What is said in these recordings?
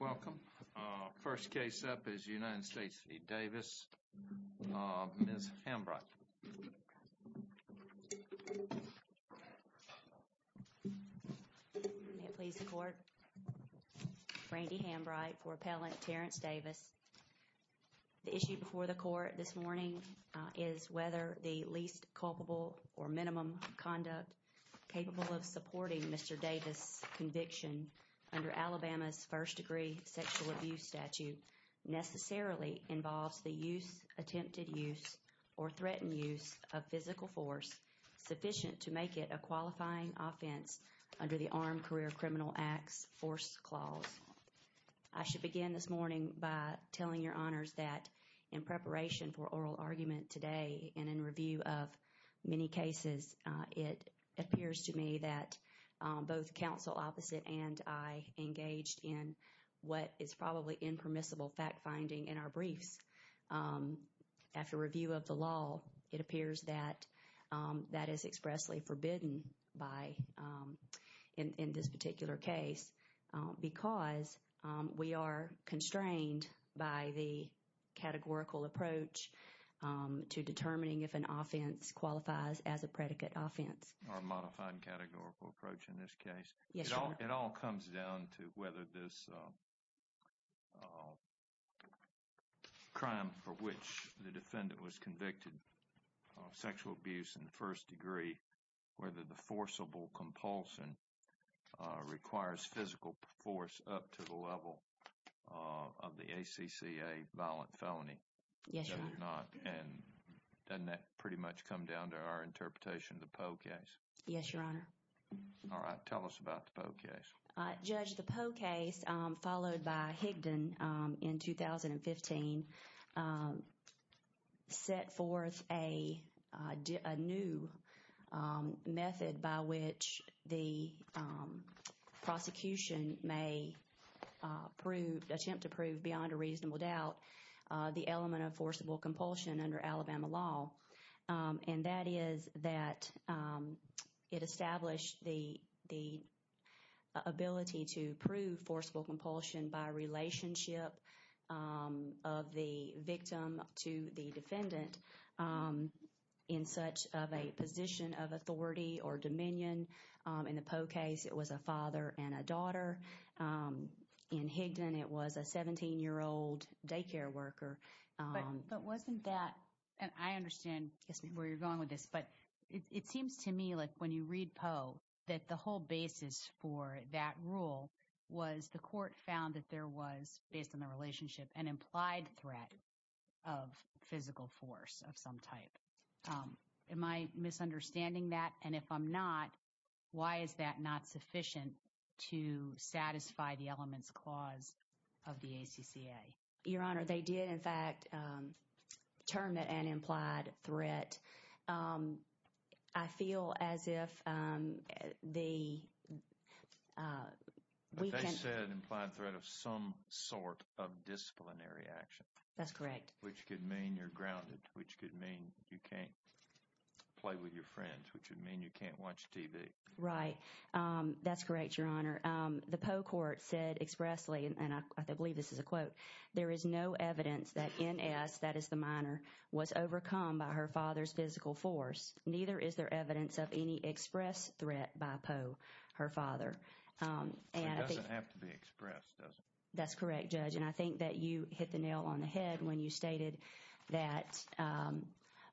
Welcome. First case up is United States v. Davis. Ms. Hambright. May it please the court. Brandy Hambright for appellant Terrance Davis. The issue before the court this morning is whether the least culpable or minimum conduct capable of supporting Mr. Davis' conviction under Alabama's first-degree sexual abuse statute necessarily involves the use, attempted use, or threatened use of physical force sufficient to make it a qualifying offense under the Armed Career Criminal Acts Force Clause. I should begin this morning by telling your honors that in preparation for oral argument today and in review of many cases, it appears to me that both counsel opposite and I engaged in what is probably impermissible fact-finding in our briefs. After review of the law, it appears that that is expressly forbidden in this particular case because we are constrained by the categorical approach to determining if an offense qualifies as a predicate offense. Or a modified categorical approach in this case. Yes, Your Honor. It all comes down to whether this crime for which the defendant was convicted of sexual abuse in the first degree, whether the forcible compulsion requires physical force up to the level of the ACCA violent felony. Yes, Your Honor. Doesn't that pretty much come down to our interpretation of the Poe case? Yes, Your Honor. All right. Tell us about the Poe case. Judge, the Poe case followed by Higdon in 2015 set forth a new method by which the prosecution may prove, attempt to prove beyond a reasonable doubt, the element of forcible compulsion under Alabama law. And that is that it established the ability to prove forcible compulsion by relationship of the victim to the defendant in such of a position of authority or dominion. In the Poe case, it was a father and a daughter. In Higdon, it was a 17-year-old daycare worker. But wasn't that, and I understand where you're going with this, but it seems to me like when you read Poe that the whole basis for that rule was the court found that there was, based on the relationship, an implied threat of physical force of some type. Am I misunderstanding that? And if I'm not, why is that not sufficient to satisfy the elements clause of the ACCA? Your Honor, they did. They did, in fact, term it an implied threat. I feel as if the… They said implied threat of some sort of disciplinary action. That's correct. Which could mean you're grounded, which could mean you can't play with your friends, which would mean you can't watch TV. Right. That's correct, Your Honor. The Poe court said expressly, and I believe this is a quote, there is no evidence that NS, that is the minor, was overcome by her father's physical force. Neither is there evidence of any express threat by Poe, her father. It doesn't have to be expressed, does it? That's correct, Judge. And I think that you hit the nail on the head when you stated that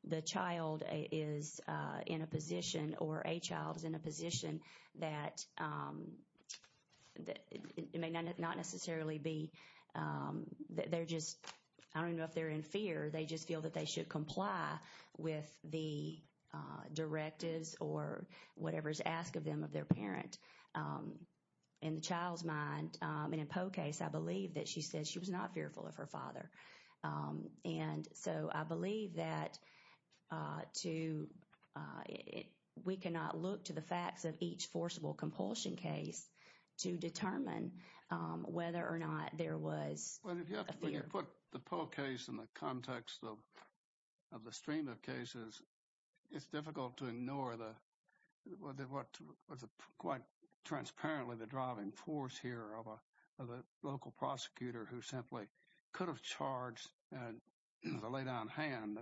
the child is in a position or a child is in a position that may not necessarily be, they're just, I don't know if they're in fear, they just feel that they should comply with the directives or whatever is asked of them of their parent. In the child's mind, in a Poe case, I believe that she said she was not fearful of her father. And so I believe that to, we cannot look to the facts of each forcible compulsion case to determine whether or not there was a fear. When you put the Poe case in the context of the stream of cases, it's difficult to ignore the, what was quite transparently the driving force here of a local prosecutor who simply could have charged, as a lay down hand,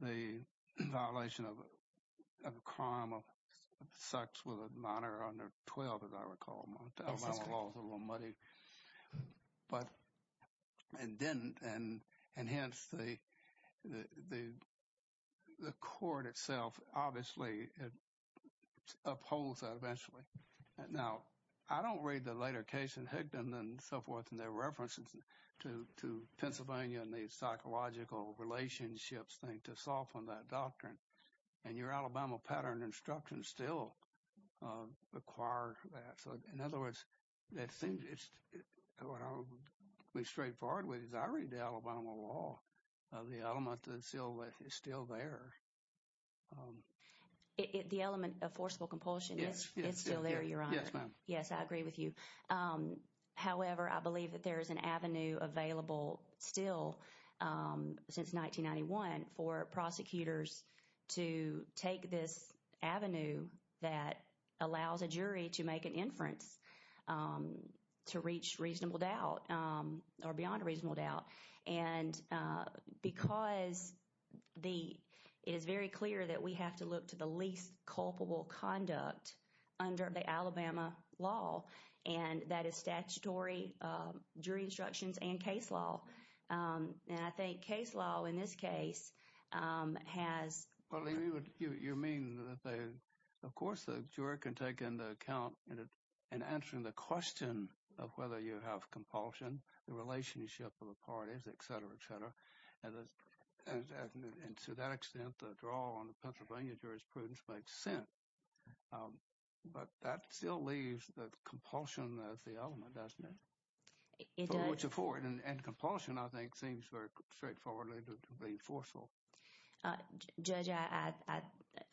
the violation of a crime of sex with a minor under 12, as I recall. Alabama laws are a little muddy. But, and then, and hence the court itself obviously upholds that eventually. Now, I don't read the later case in Higdon and so forth and their references to Pennsylvania and the psychological relationships thing to soften that doctrine. And your Alabama pattern instructions still require that. So, in other words, that seems, what I'll be straightforward with is I read the Alabama law. The element is still there. The element of forcible compulsion is still there, Your Honor. Yes, ma'am. Yes, I agree with you. However, I believe that there is an avenue available still since 1991 for prosecutors to take this avenue that allows a jury to make an inference to reach reasonable doubt or beyond reasonable doubt. And because it is very clear that we have to look to the least culpable conduct under the Alabama law, and that is statutory jury instructions and case law. And I think case law in this case has Well, you mean that they, of course, the juror can take into account in answering the question of whether you have compulsion, the relationship of the parties, et cetera, et cetera. And to that extent, the draw on the Pennsylvania jurisprudence makes sense. But that still leaves the compulsion as the element, doesn't it? It does. It's a forward. And compulsion, I think, seems very straightforwardly to be forceful. Judge,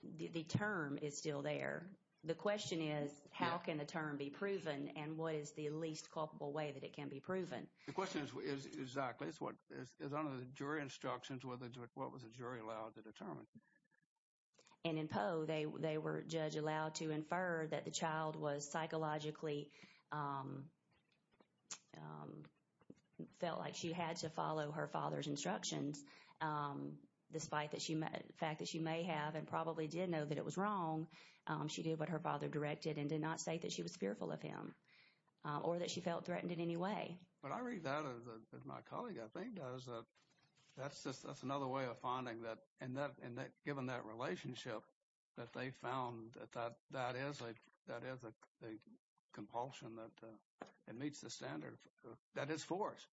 the term is still there. The question is how can the term be proven and what is the least culpable way that it can be proven? The question is exactly. It's what is under the jury instructions, what was the jury allowed to determine? And in Poe, they were, Judge, allowed to infer that the child was psychologically felt like she had to follow her father's instructions, despite the fact that she may have and probably did know that it was wrong. She did what her father directed and did not say that she was fearful of him or that she felt threatened in any way. But I read that as my colleague, I think, does. That's another way of finding that. And given that relationship that they found, that is a compulsion that meets the standard. That is force.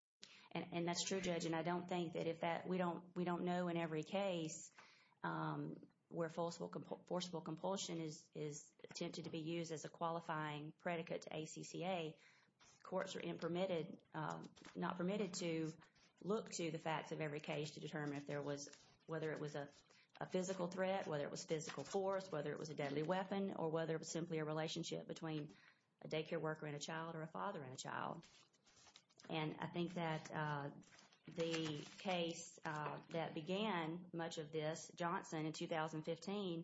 And that's true, Judge. And I don't think that if that, we don't know in every case where forcible compulsion is attempted to be used as a qualifying predicate to ACCA. Courts are not permitted to look to the facts of every case to determine if there was, whether it was a physical threat, whether it was physical force, whether it was a deadly weapon, or whether it was simply a relationship between a daycare worker and a child or a father and a child. And I think that the case that began much of this, Johnson, in 2015,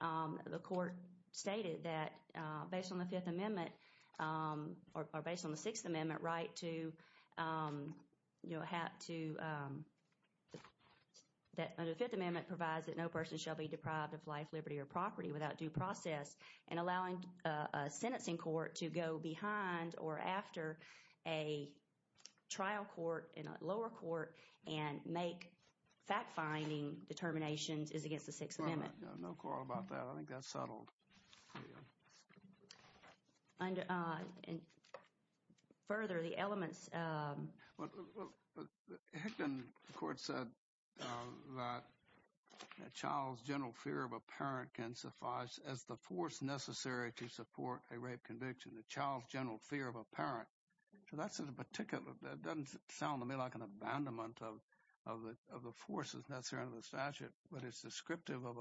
the court stated that based on the Fifth Amendment or based on the Sixth Amendment right to, you know, have to, that the Fifth Amendment provides that no person shall be deprived of life, liberty, or property without due process and allowing a sentencing court to go behind or after a trial court in a lower court and make fact-finding determinations is against the Sixth Amendment. No quarrel about that. I think that's settled. And further, the elements. Hickman, of course, said that a child's general fear of a parent can suffice as the force necessary to support a rape conviction, the child's general fear of a parent. So that's a particular, that doesn't sound to me like an abandonment of the forces necessary under the statute, but it's descriptive of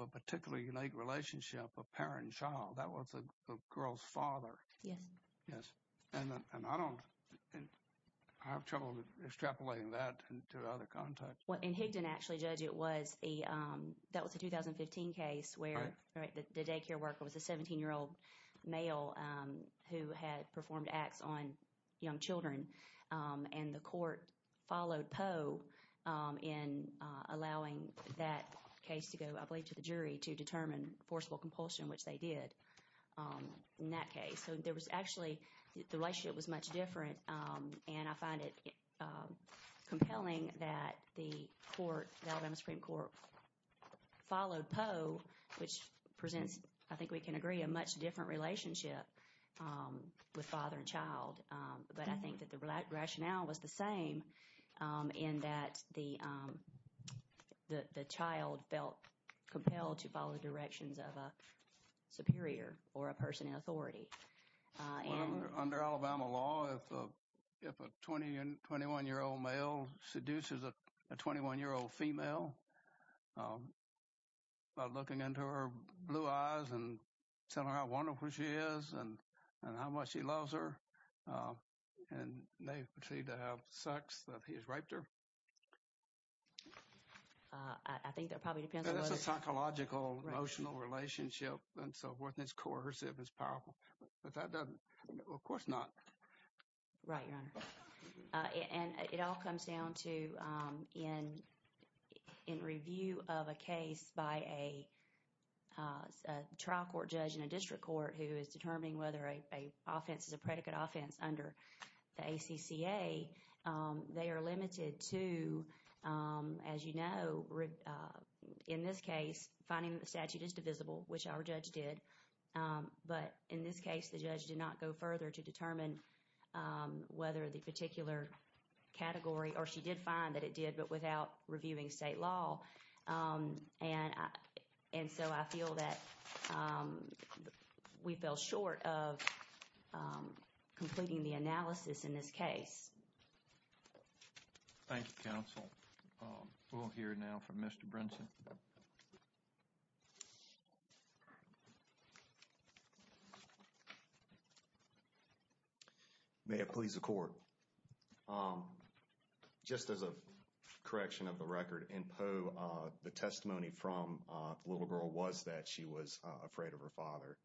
a particularly unique relationship, a parent and child. That was a girl's father. Yes. Yes. And I don't, I have trouble extrapolating that to other contexts. Well, in Higdon, actually, Judge, it was a, that was a 2015 case where the daycare worker was a 17-year-old male who had performed acts on young children. And the court followed Poe in allowing that case to go, I believe, to the jury to determine forcible compulsion, which they did in that case. So there was actually, the relationship was much different, and I find it compelling that the court, the Alabama Supreme Court, followed Poe, which presents, I think we can agree, a much different relationship with father and child. But I think that the rationale was the same in that the child felt compelled to follow the directions of a superior or a person in authority. Under Alabama law, if a 21-year-old male seduces a 21-year-old female by looking into her blue eyes and telling her how wonderful she is and how much he loves her, and they proceed to have sex, that he has raped her. I think that probably depends on what… It's a psychological, emotional relationship, and so forth, and it's coercive, it's powerful. But that doesn't, of course not. Right, Your Honor. And it all comes down to in review of a case by a trial court judge in a district court who is determining whether an offense is a predicate offense under the ACCA, they are limited to, as you know, in this case, finding that the statute is divisible, which our judge did. But in this case, the judge did not go further to determine whether the particular category, or she did find that it did, but without reviewing state law. And so I feel that we fell short of completing the analysis in this case. Thank you, counsel. We'll hear now from Mr. Brinson. May it please the court. Just as a correction of the record, in Poe, the testimony from the little girl was that she was afraid of her father.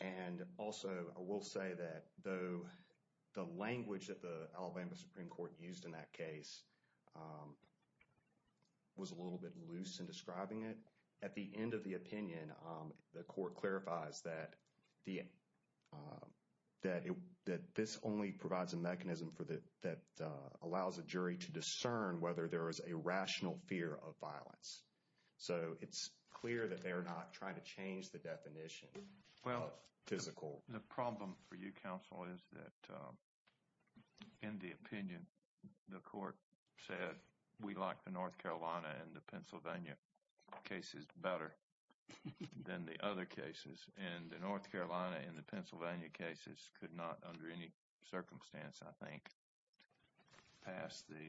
And also, I will say that the language that the Alabama Supreme Court used in that case was a little bit loose in describing it. At the end of the opinion, the court clarifies that this only provides a mechanism that allows a jury to discern whether there is a rational fear of violence. So it's clear that they are not trying to change the definition of physical. Well, the problem for you, counsel, is that in the opinion, the court said we like the North Carolina and the Pennsylvania cases better than the other cases. And the North Carolina and the Pennsylvania cases could not, under any circumstance, I think, pass the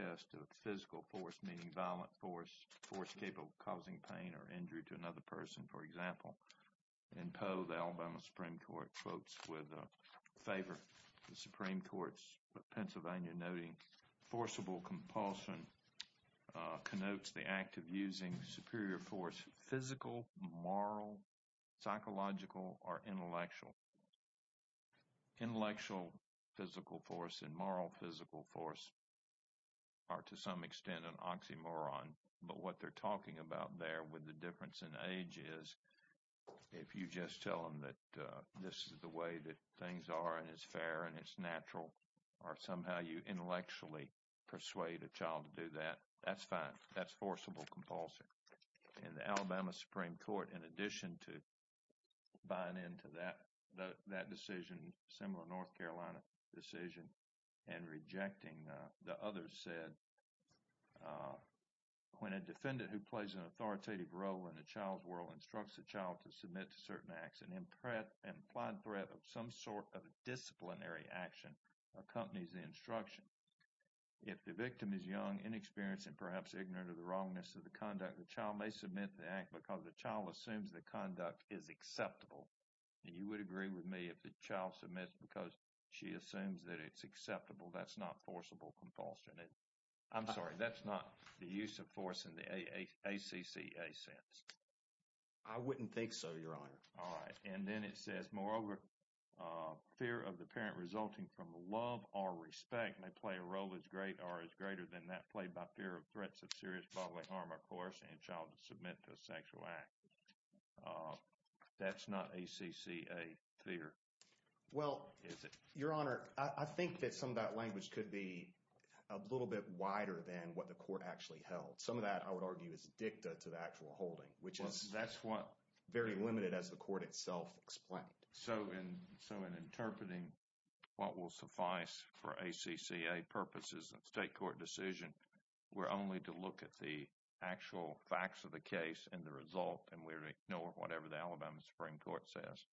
test of physical force, meaning violent force, force capable of causing pain or injury to another person, for example. In Poe, the Alabama Supreme Court quotes with favor the Supreme Court's Pennsylvania, denoting forcible compulsion connotes the act of using superior force, physical, moral, psychological, or intellectual. Intellectual physical force and moral physical force are to some extent an oxymoron. But what they're talking about there with the difference in age is if you just tell them that this is the way that things are and it's fair and it's natural, or somehow you intellectually persuade a child to do that, that's fine. That's forcible compulsion. And the Alabama Supreme Court, in addition to buying into that decision, similar North Carolina decision, and rejecting the others said, when a defendant who plays an authoritative role in a child's world instructs a child to submit to certain acts, an implied threat of some sort of disciplinary action accompanies the instruction. If the victim is young, inexperienced, and perhaps ignorant of the wrongness of the conduct, the child may submit the act because the child assumes the conduct is acceptable. And you would agree with me if the child submits because she assumes that it's acceptable, that's not forcible compulsion. I'm sorry, that's not the use of force in the ACCA sense. I wouldn't think so, Your Honor. All right. And then it says, moreover, fear of the parent resulting from love or respect may play a role as great or as greater than that played by fear of threats of serious bodily harm or coercion in a child to submit to a sexual act. That's not ACCA fear, is it? Well, Your Honor, I think that some of that language could be a little bit wider than what the court actually held. Some of that, I would argue, is dicta to the actual holding, which is very limited as the court itself explained. So in interpreting what will suffice for ACCA purposes of state court decision, we're only to look at the actual facts of the case and the result and we ignore whatever the Alabama Supreme Court says?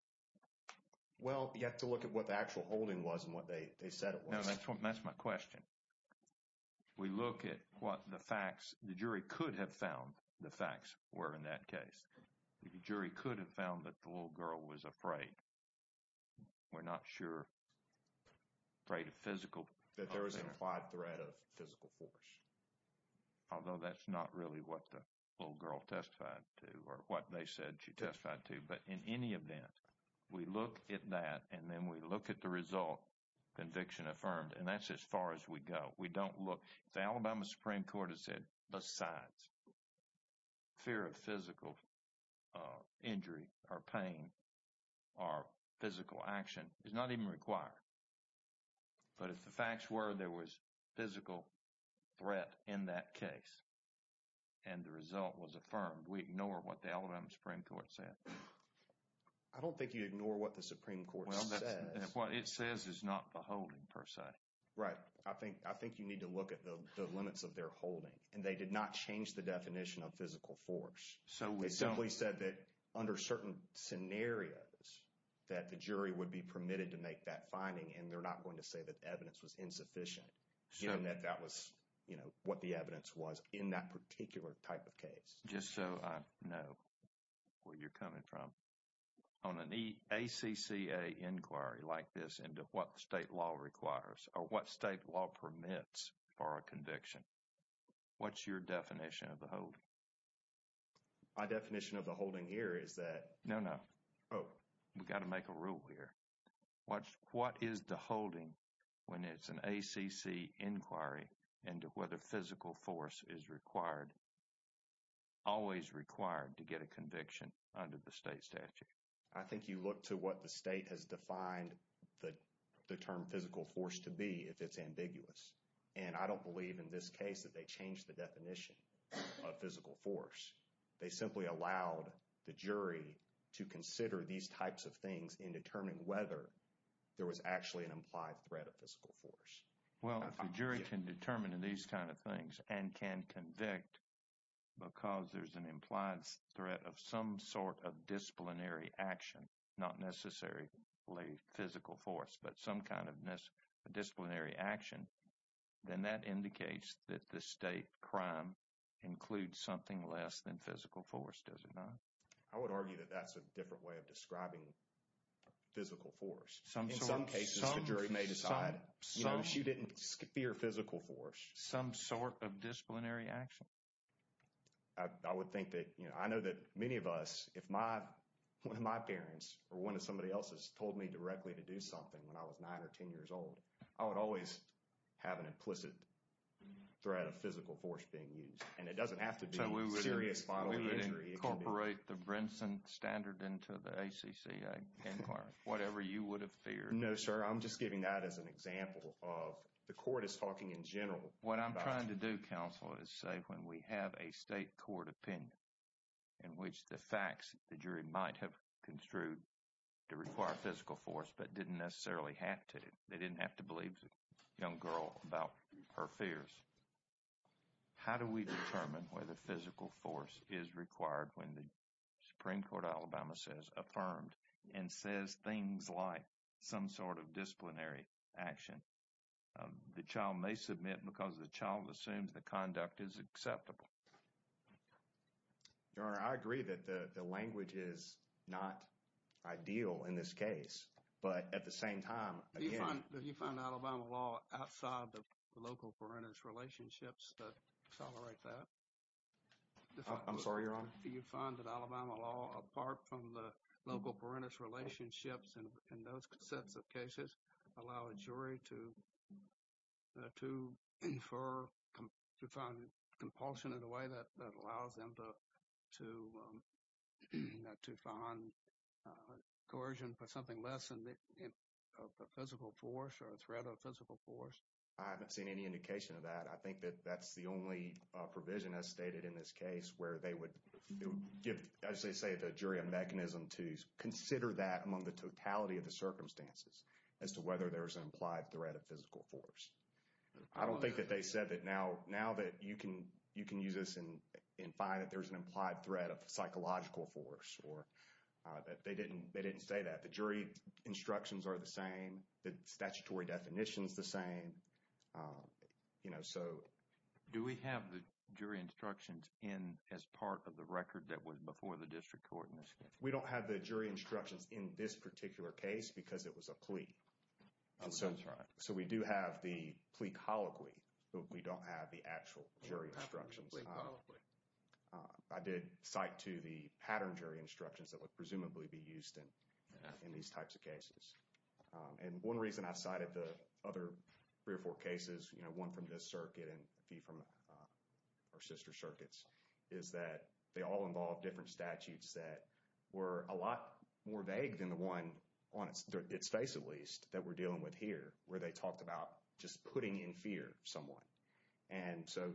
Well, you have to look at what the actual holding was and what they said it was. That's my question. We look at what the facts, the jury could have found the facts were in that case. The jury could have found that the little girl was afraid. We're not sure, afraid of physical. That there was an implied threat of physical force. Although that's not really what the little girl testified to or what they said she testified to. But in any event, we look at that and then we look at the result, conviction affirmed. And that's as far as we go. We don't look. The Alabama Supreme Court has said besides fear of physical injury or pain or physical action. It's not even required. But if the facts were there was physical threat in that case and the result was affirmed, we ignore what the Alabama Supreme Court said. I don't think you ignore what the Supreme Court says. What it says is not the holding per se. Right. I think you need to look at the limits of their holding. And they did not change the definition of physical force. So we simply said that under certain scenarios that the jury would be permitted to make that finding. And they're not going to say that evidence was insufficient. So that was, you know, what the evidence was in that particular type of case. Just so I know where you're coming from. On an ACCA inquiry like this into what state law requires or what state law permits for a conviction. What's your definition of the hold? My definition of the holding here is that. No, no. Oh, we've got to make a rule here. What is the holding when it's an ACC inquiry and whether physical force is required. Always required to get a conviction under the state statute. I think you look to what the state has defined the term physical force to be if it's ambiguous. And I don't believe in this case that they changed the definition of physical force. They simply allowed the jury to consider these types of things in determining whether there was actually an implied threat of physical force. Well, the jury can determine these kind of things and can convict because there's an implied threat of some sort of disciplinary action. Not necessarily physical force, but some kind of disciplinary action. Then that indicates that the state crime includes something less than physical force, does it not? I would argue that that's a different way of describing physical force. In some cases, the jury may decide she didn't fear physical force. Some sort of disciplinary action. I would think that, you know, I know that many of us, if my parents or one of somebody else's told me directly to do something when I was 9 or 10 years old. I would always have an implicit threat of physical force being used. And it doesn't have to be serious bodily injury. We would incorporate the Brinson standard into the ACC inquiry. Whatever you would have feared. No, sir. I'm just giving that as an example of the court is talking in general. What I'm trying to do, counsel, is say when we have a state court opinion. In which the facts the jury might have construed to require physical force, but didn't necessarily have to. They didn't have to believe the young girl about her fears. How do we determine whether physical force is required when the Supreme Court of Alabama says affirmed and says things like some sort of disciplinary action? The child may submit because the child assumes the conduct is acceptable. Your Honor, I agree that the language is not ideal in this case. But at the same time, again. Do you find Alabama law outside the local parentage relationships that tolerate that? I'm sorry, Your Honor. Do you find that Alabama law, apart from the local parentage relationships in those sets of cases, allow a jury to infer, to find compulsion in a way that allows them to find coercion for something less than a physical force or a threat of physical force? I haven't seen any indication of that. I think that that's the only provision as stated in this case where they would give, as they say, the jury a mechanism to consider that among the totality of the circumstances. As to whether there's an implied threat of physical force. I don't think that they said that now that you can use this and find that there's an implied threat of psychological force. Or that they didn't say that. The jury instructions are the same. The statutory definition is the same. You know, so. Do we have the jury instructions in as part of the record that was before the district court in this case? We don't have the jury instructions in this particular case because it was a plea. Oh, that's right. So we do have the plea colloquy. But we don't have the actual jury instructions. We don't have the plea colloquy. I did cite to the pattern jury instructions that would presumably be used in these types of cases. And one reason I cited the other three or four cases. You know, one from this circuit and a few from our sister circuits. Is that they all involve different statutes that were a lot more vague than the one on its face at least. That we're dealing with here. Where they talked about just putting in fear of someone. And so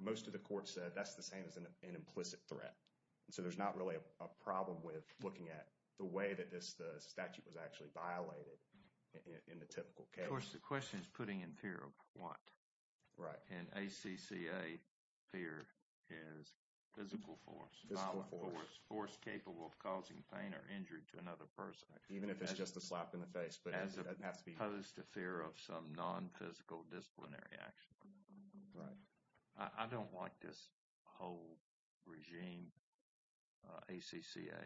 most of the court said that's the same as an implicit threat. So there's not really a problem with looking at the way that this statute was actually violated in the typical case. Of course the question is putting in fear of what? Right. And ACCA fear is physical force. Physical force. Force capable of causing pain or injury to another person. Even if it's just a slap in the face. As opposed to fear of some non-physical disciplinary action. Right. I don't like this whole regime. ACCA.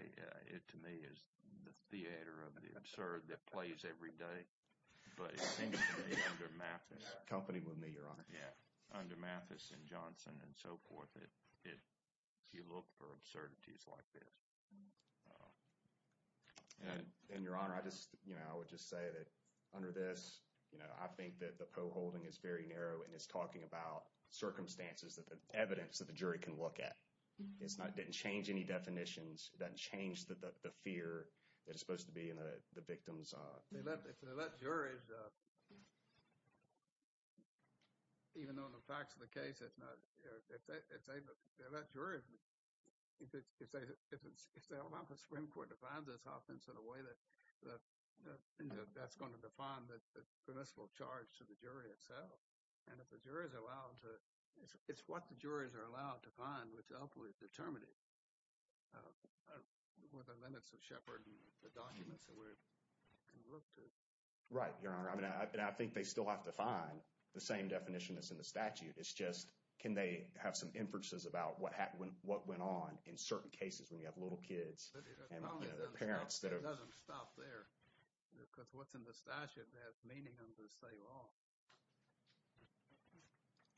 It to me is the theater of the absurd that plays every day. But it seems to me under Mathis. Company with me your honor. Yeah. Under Mathis and Johnson and so forth. You look for absurdities like this. And your honor. I just, you know, I would just say that under this. You know, I think that the PO holding is very narrow and it's talking about circumstances that the evidence that the jury can look at. It's not didn't change any definitions. That changed the fear that is supposed to be in the victim's. If they let jurors. Even though the facts of the case. It's not. If they let jurors. If they allow the Supreme Court to find this offense in a way that that's going to define the permissible charge to the jury itself. And if the jurors are allowed to. It's what the jurors are allowed to find. Determinant. Right. Your honor. I mean, I think they still have to find the same definition that's in the statute. It's just can they have some inferences about what happened? What went on in certain cases when you have little kids and parents. That doesn't stop there. Because what's in the statute has meaning under the state law.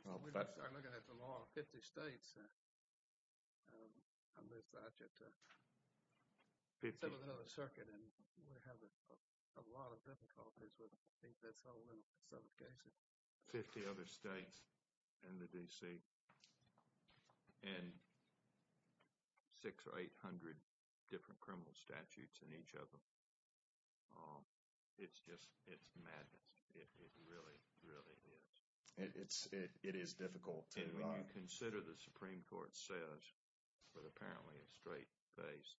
Well, let's start looking at the law. Fifty states. I missed that. Some of the circuit and we're having a lot of difficulties with this whole set of cases. Fifty other states and the D.C. And. Six or eight hundred different criminal statutes in each of them. It's just it's madness. It really, really is. It's it is difficult to consider. The Supreme Court says. But apparently a straight face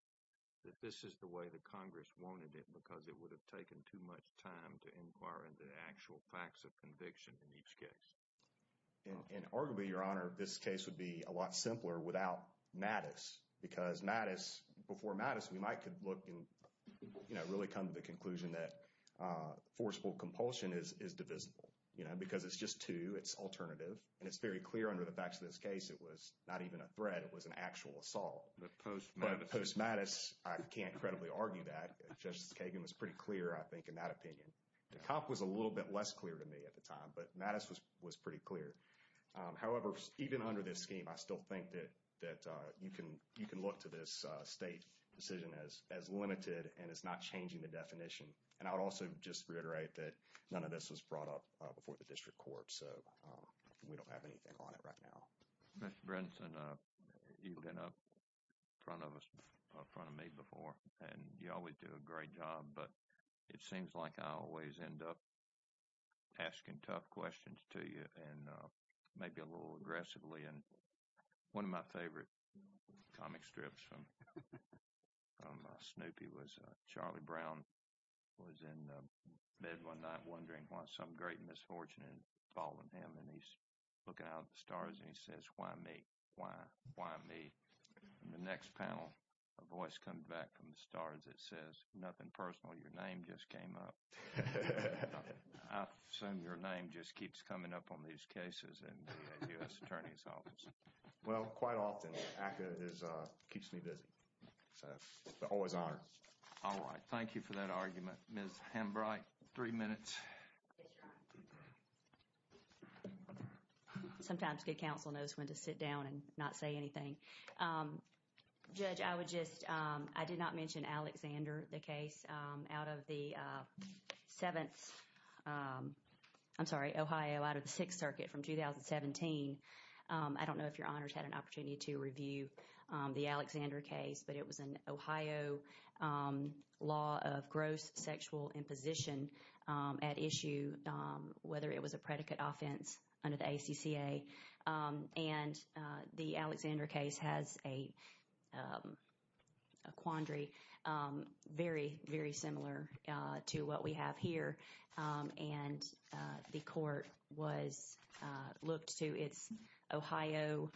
that this is the way the Congress wanted it. Because it would have taken too much time to inquire into the actual facts of conviction in each case. And arguably, your honor, this case would be a lot simpler without madness. Because madness before madness, we might could look and really come to the conclusion that forcible compulsion is divisible, you know, because it's just to its alternative. And it's very clear under the facts of this case. It was not even a threat. It was an actual assault. The post post madness. I can't credibly argue that. Justice Kagan was pretty clear, I think, in that opinion. The cop was a little bit less clear to me at the time. But madness was was pretty clear. However, even under this scheme, I still think that that you can you can look to this state decision as as limited and it's not changing the definition. And I would also just reiterate that none of this was brought up before the district court. So we don't have anything on it right now. Mr. Brinson, you've been up front of us in front of me before. And you always do a great job. But it seems like I always end up asking tough questions to you and maybe a little aggressively. And one of my favorite comic strips from Snoopy was Charlie Brown was in bed one night wondering why some great misfortune had fallen him. And he's looking at the stars and he says, why me? Why? Why me? The next panel, a voice comes back from the stars. It says nothing personal. Your name just came up. I assume your name just keeps coming up on these cases in the U.S. Attorney's Office. Well, quite often, ACCA keeps me busy. So it's always honor. All right. Thank you for that argument. Ms. Hambright, three minutes. Sometimes good counsel knows when to sit down and not say anything. Judge, I would just I did not mention Alexander, the case out of the seventh. I'm sorry, Ohio out of the Sixth Circuit from 2017. I don't know if your honors had an opportunity to review the Alexander case, but it was an Ohio law of gross sexual imposition at issue, whether it was a predicate offense under the ACCA. And the Alexander case has a quandary. Very, very similar to what we have here. And the court was looked to its Ohio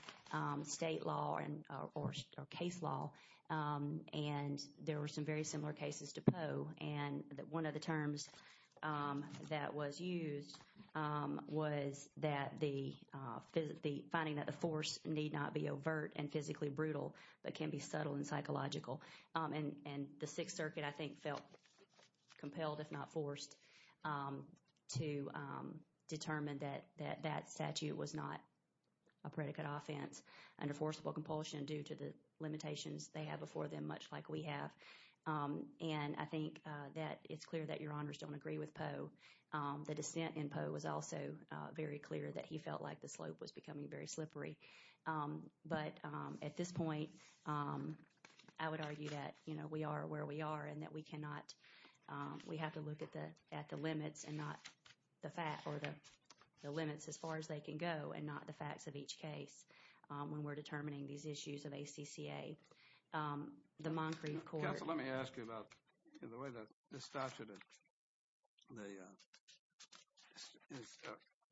state law and or case law. And there were some very similar cases to Poe. And one of the terms that was used was that the the finding that the force need not be overt and physically brutal, but can be subtle and psychological. And the Sixth Circuit, I think, felt compelled, if not forced to determine that that that statute was not a predicate offense under forcible compulsion due to the limitations they have before them, much like we have. And I think that it's clear that your honors don't agree with Poe. The dissent in Poe was also very clear that he felt like the slope was becoming very slippery. But at this point, I would argue that, you know, we are where we are and that we cannot we have to look at the at the limits and not the fact or the limits as far as they can go and not the facts of each case. When we're determining these issues of ACCA, the Moncrief Court. Let me ask you about the way that this statute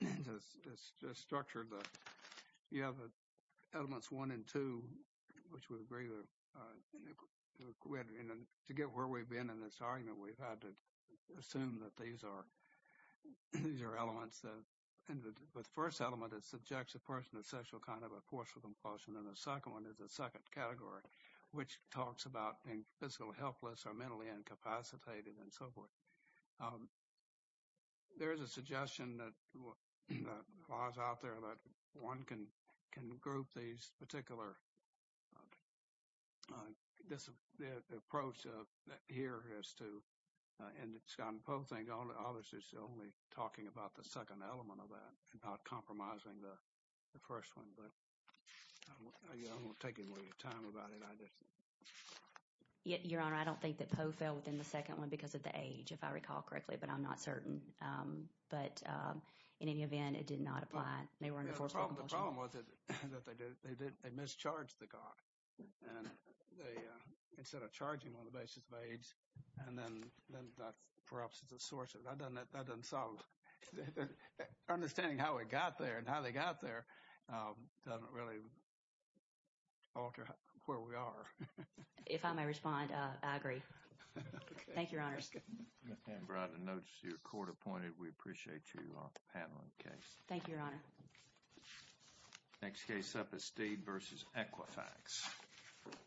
is structured. You have elements one and two, which would agree to get where we've been in this argument. We've had to assume that these are your elements. And the first element is subjects, a person of sexual kind of a forceful compulsion. And the second one is a second category, which talks about being physically helpless or mentally incapacitated and so forth. There is a suggestion that was out there that one can can group these particular. This approach here is to and it's gotten both things. Obviously, it's only talking about the second element of that and not compromising the first one. But I won't take any more time about it. Your Honor, I don't think that POE fell within the second one because of the age, if I recall correctly, but I'm not certain. But in any event, it did not apply. The problem was that they mischarged the guy instead of charging on the basis of age. And then that's perhaps the source of that. And that doesn't sound understanding how it got there and how they got there. Doesn't really alter where we are. If I may respond, I agree. Thank you, Your Honor. And notice your court appointed. We appreciate you handling the case. Thank you, Your Honor. Next case up is Stede versus Equifax.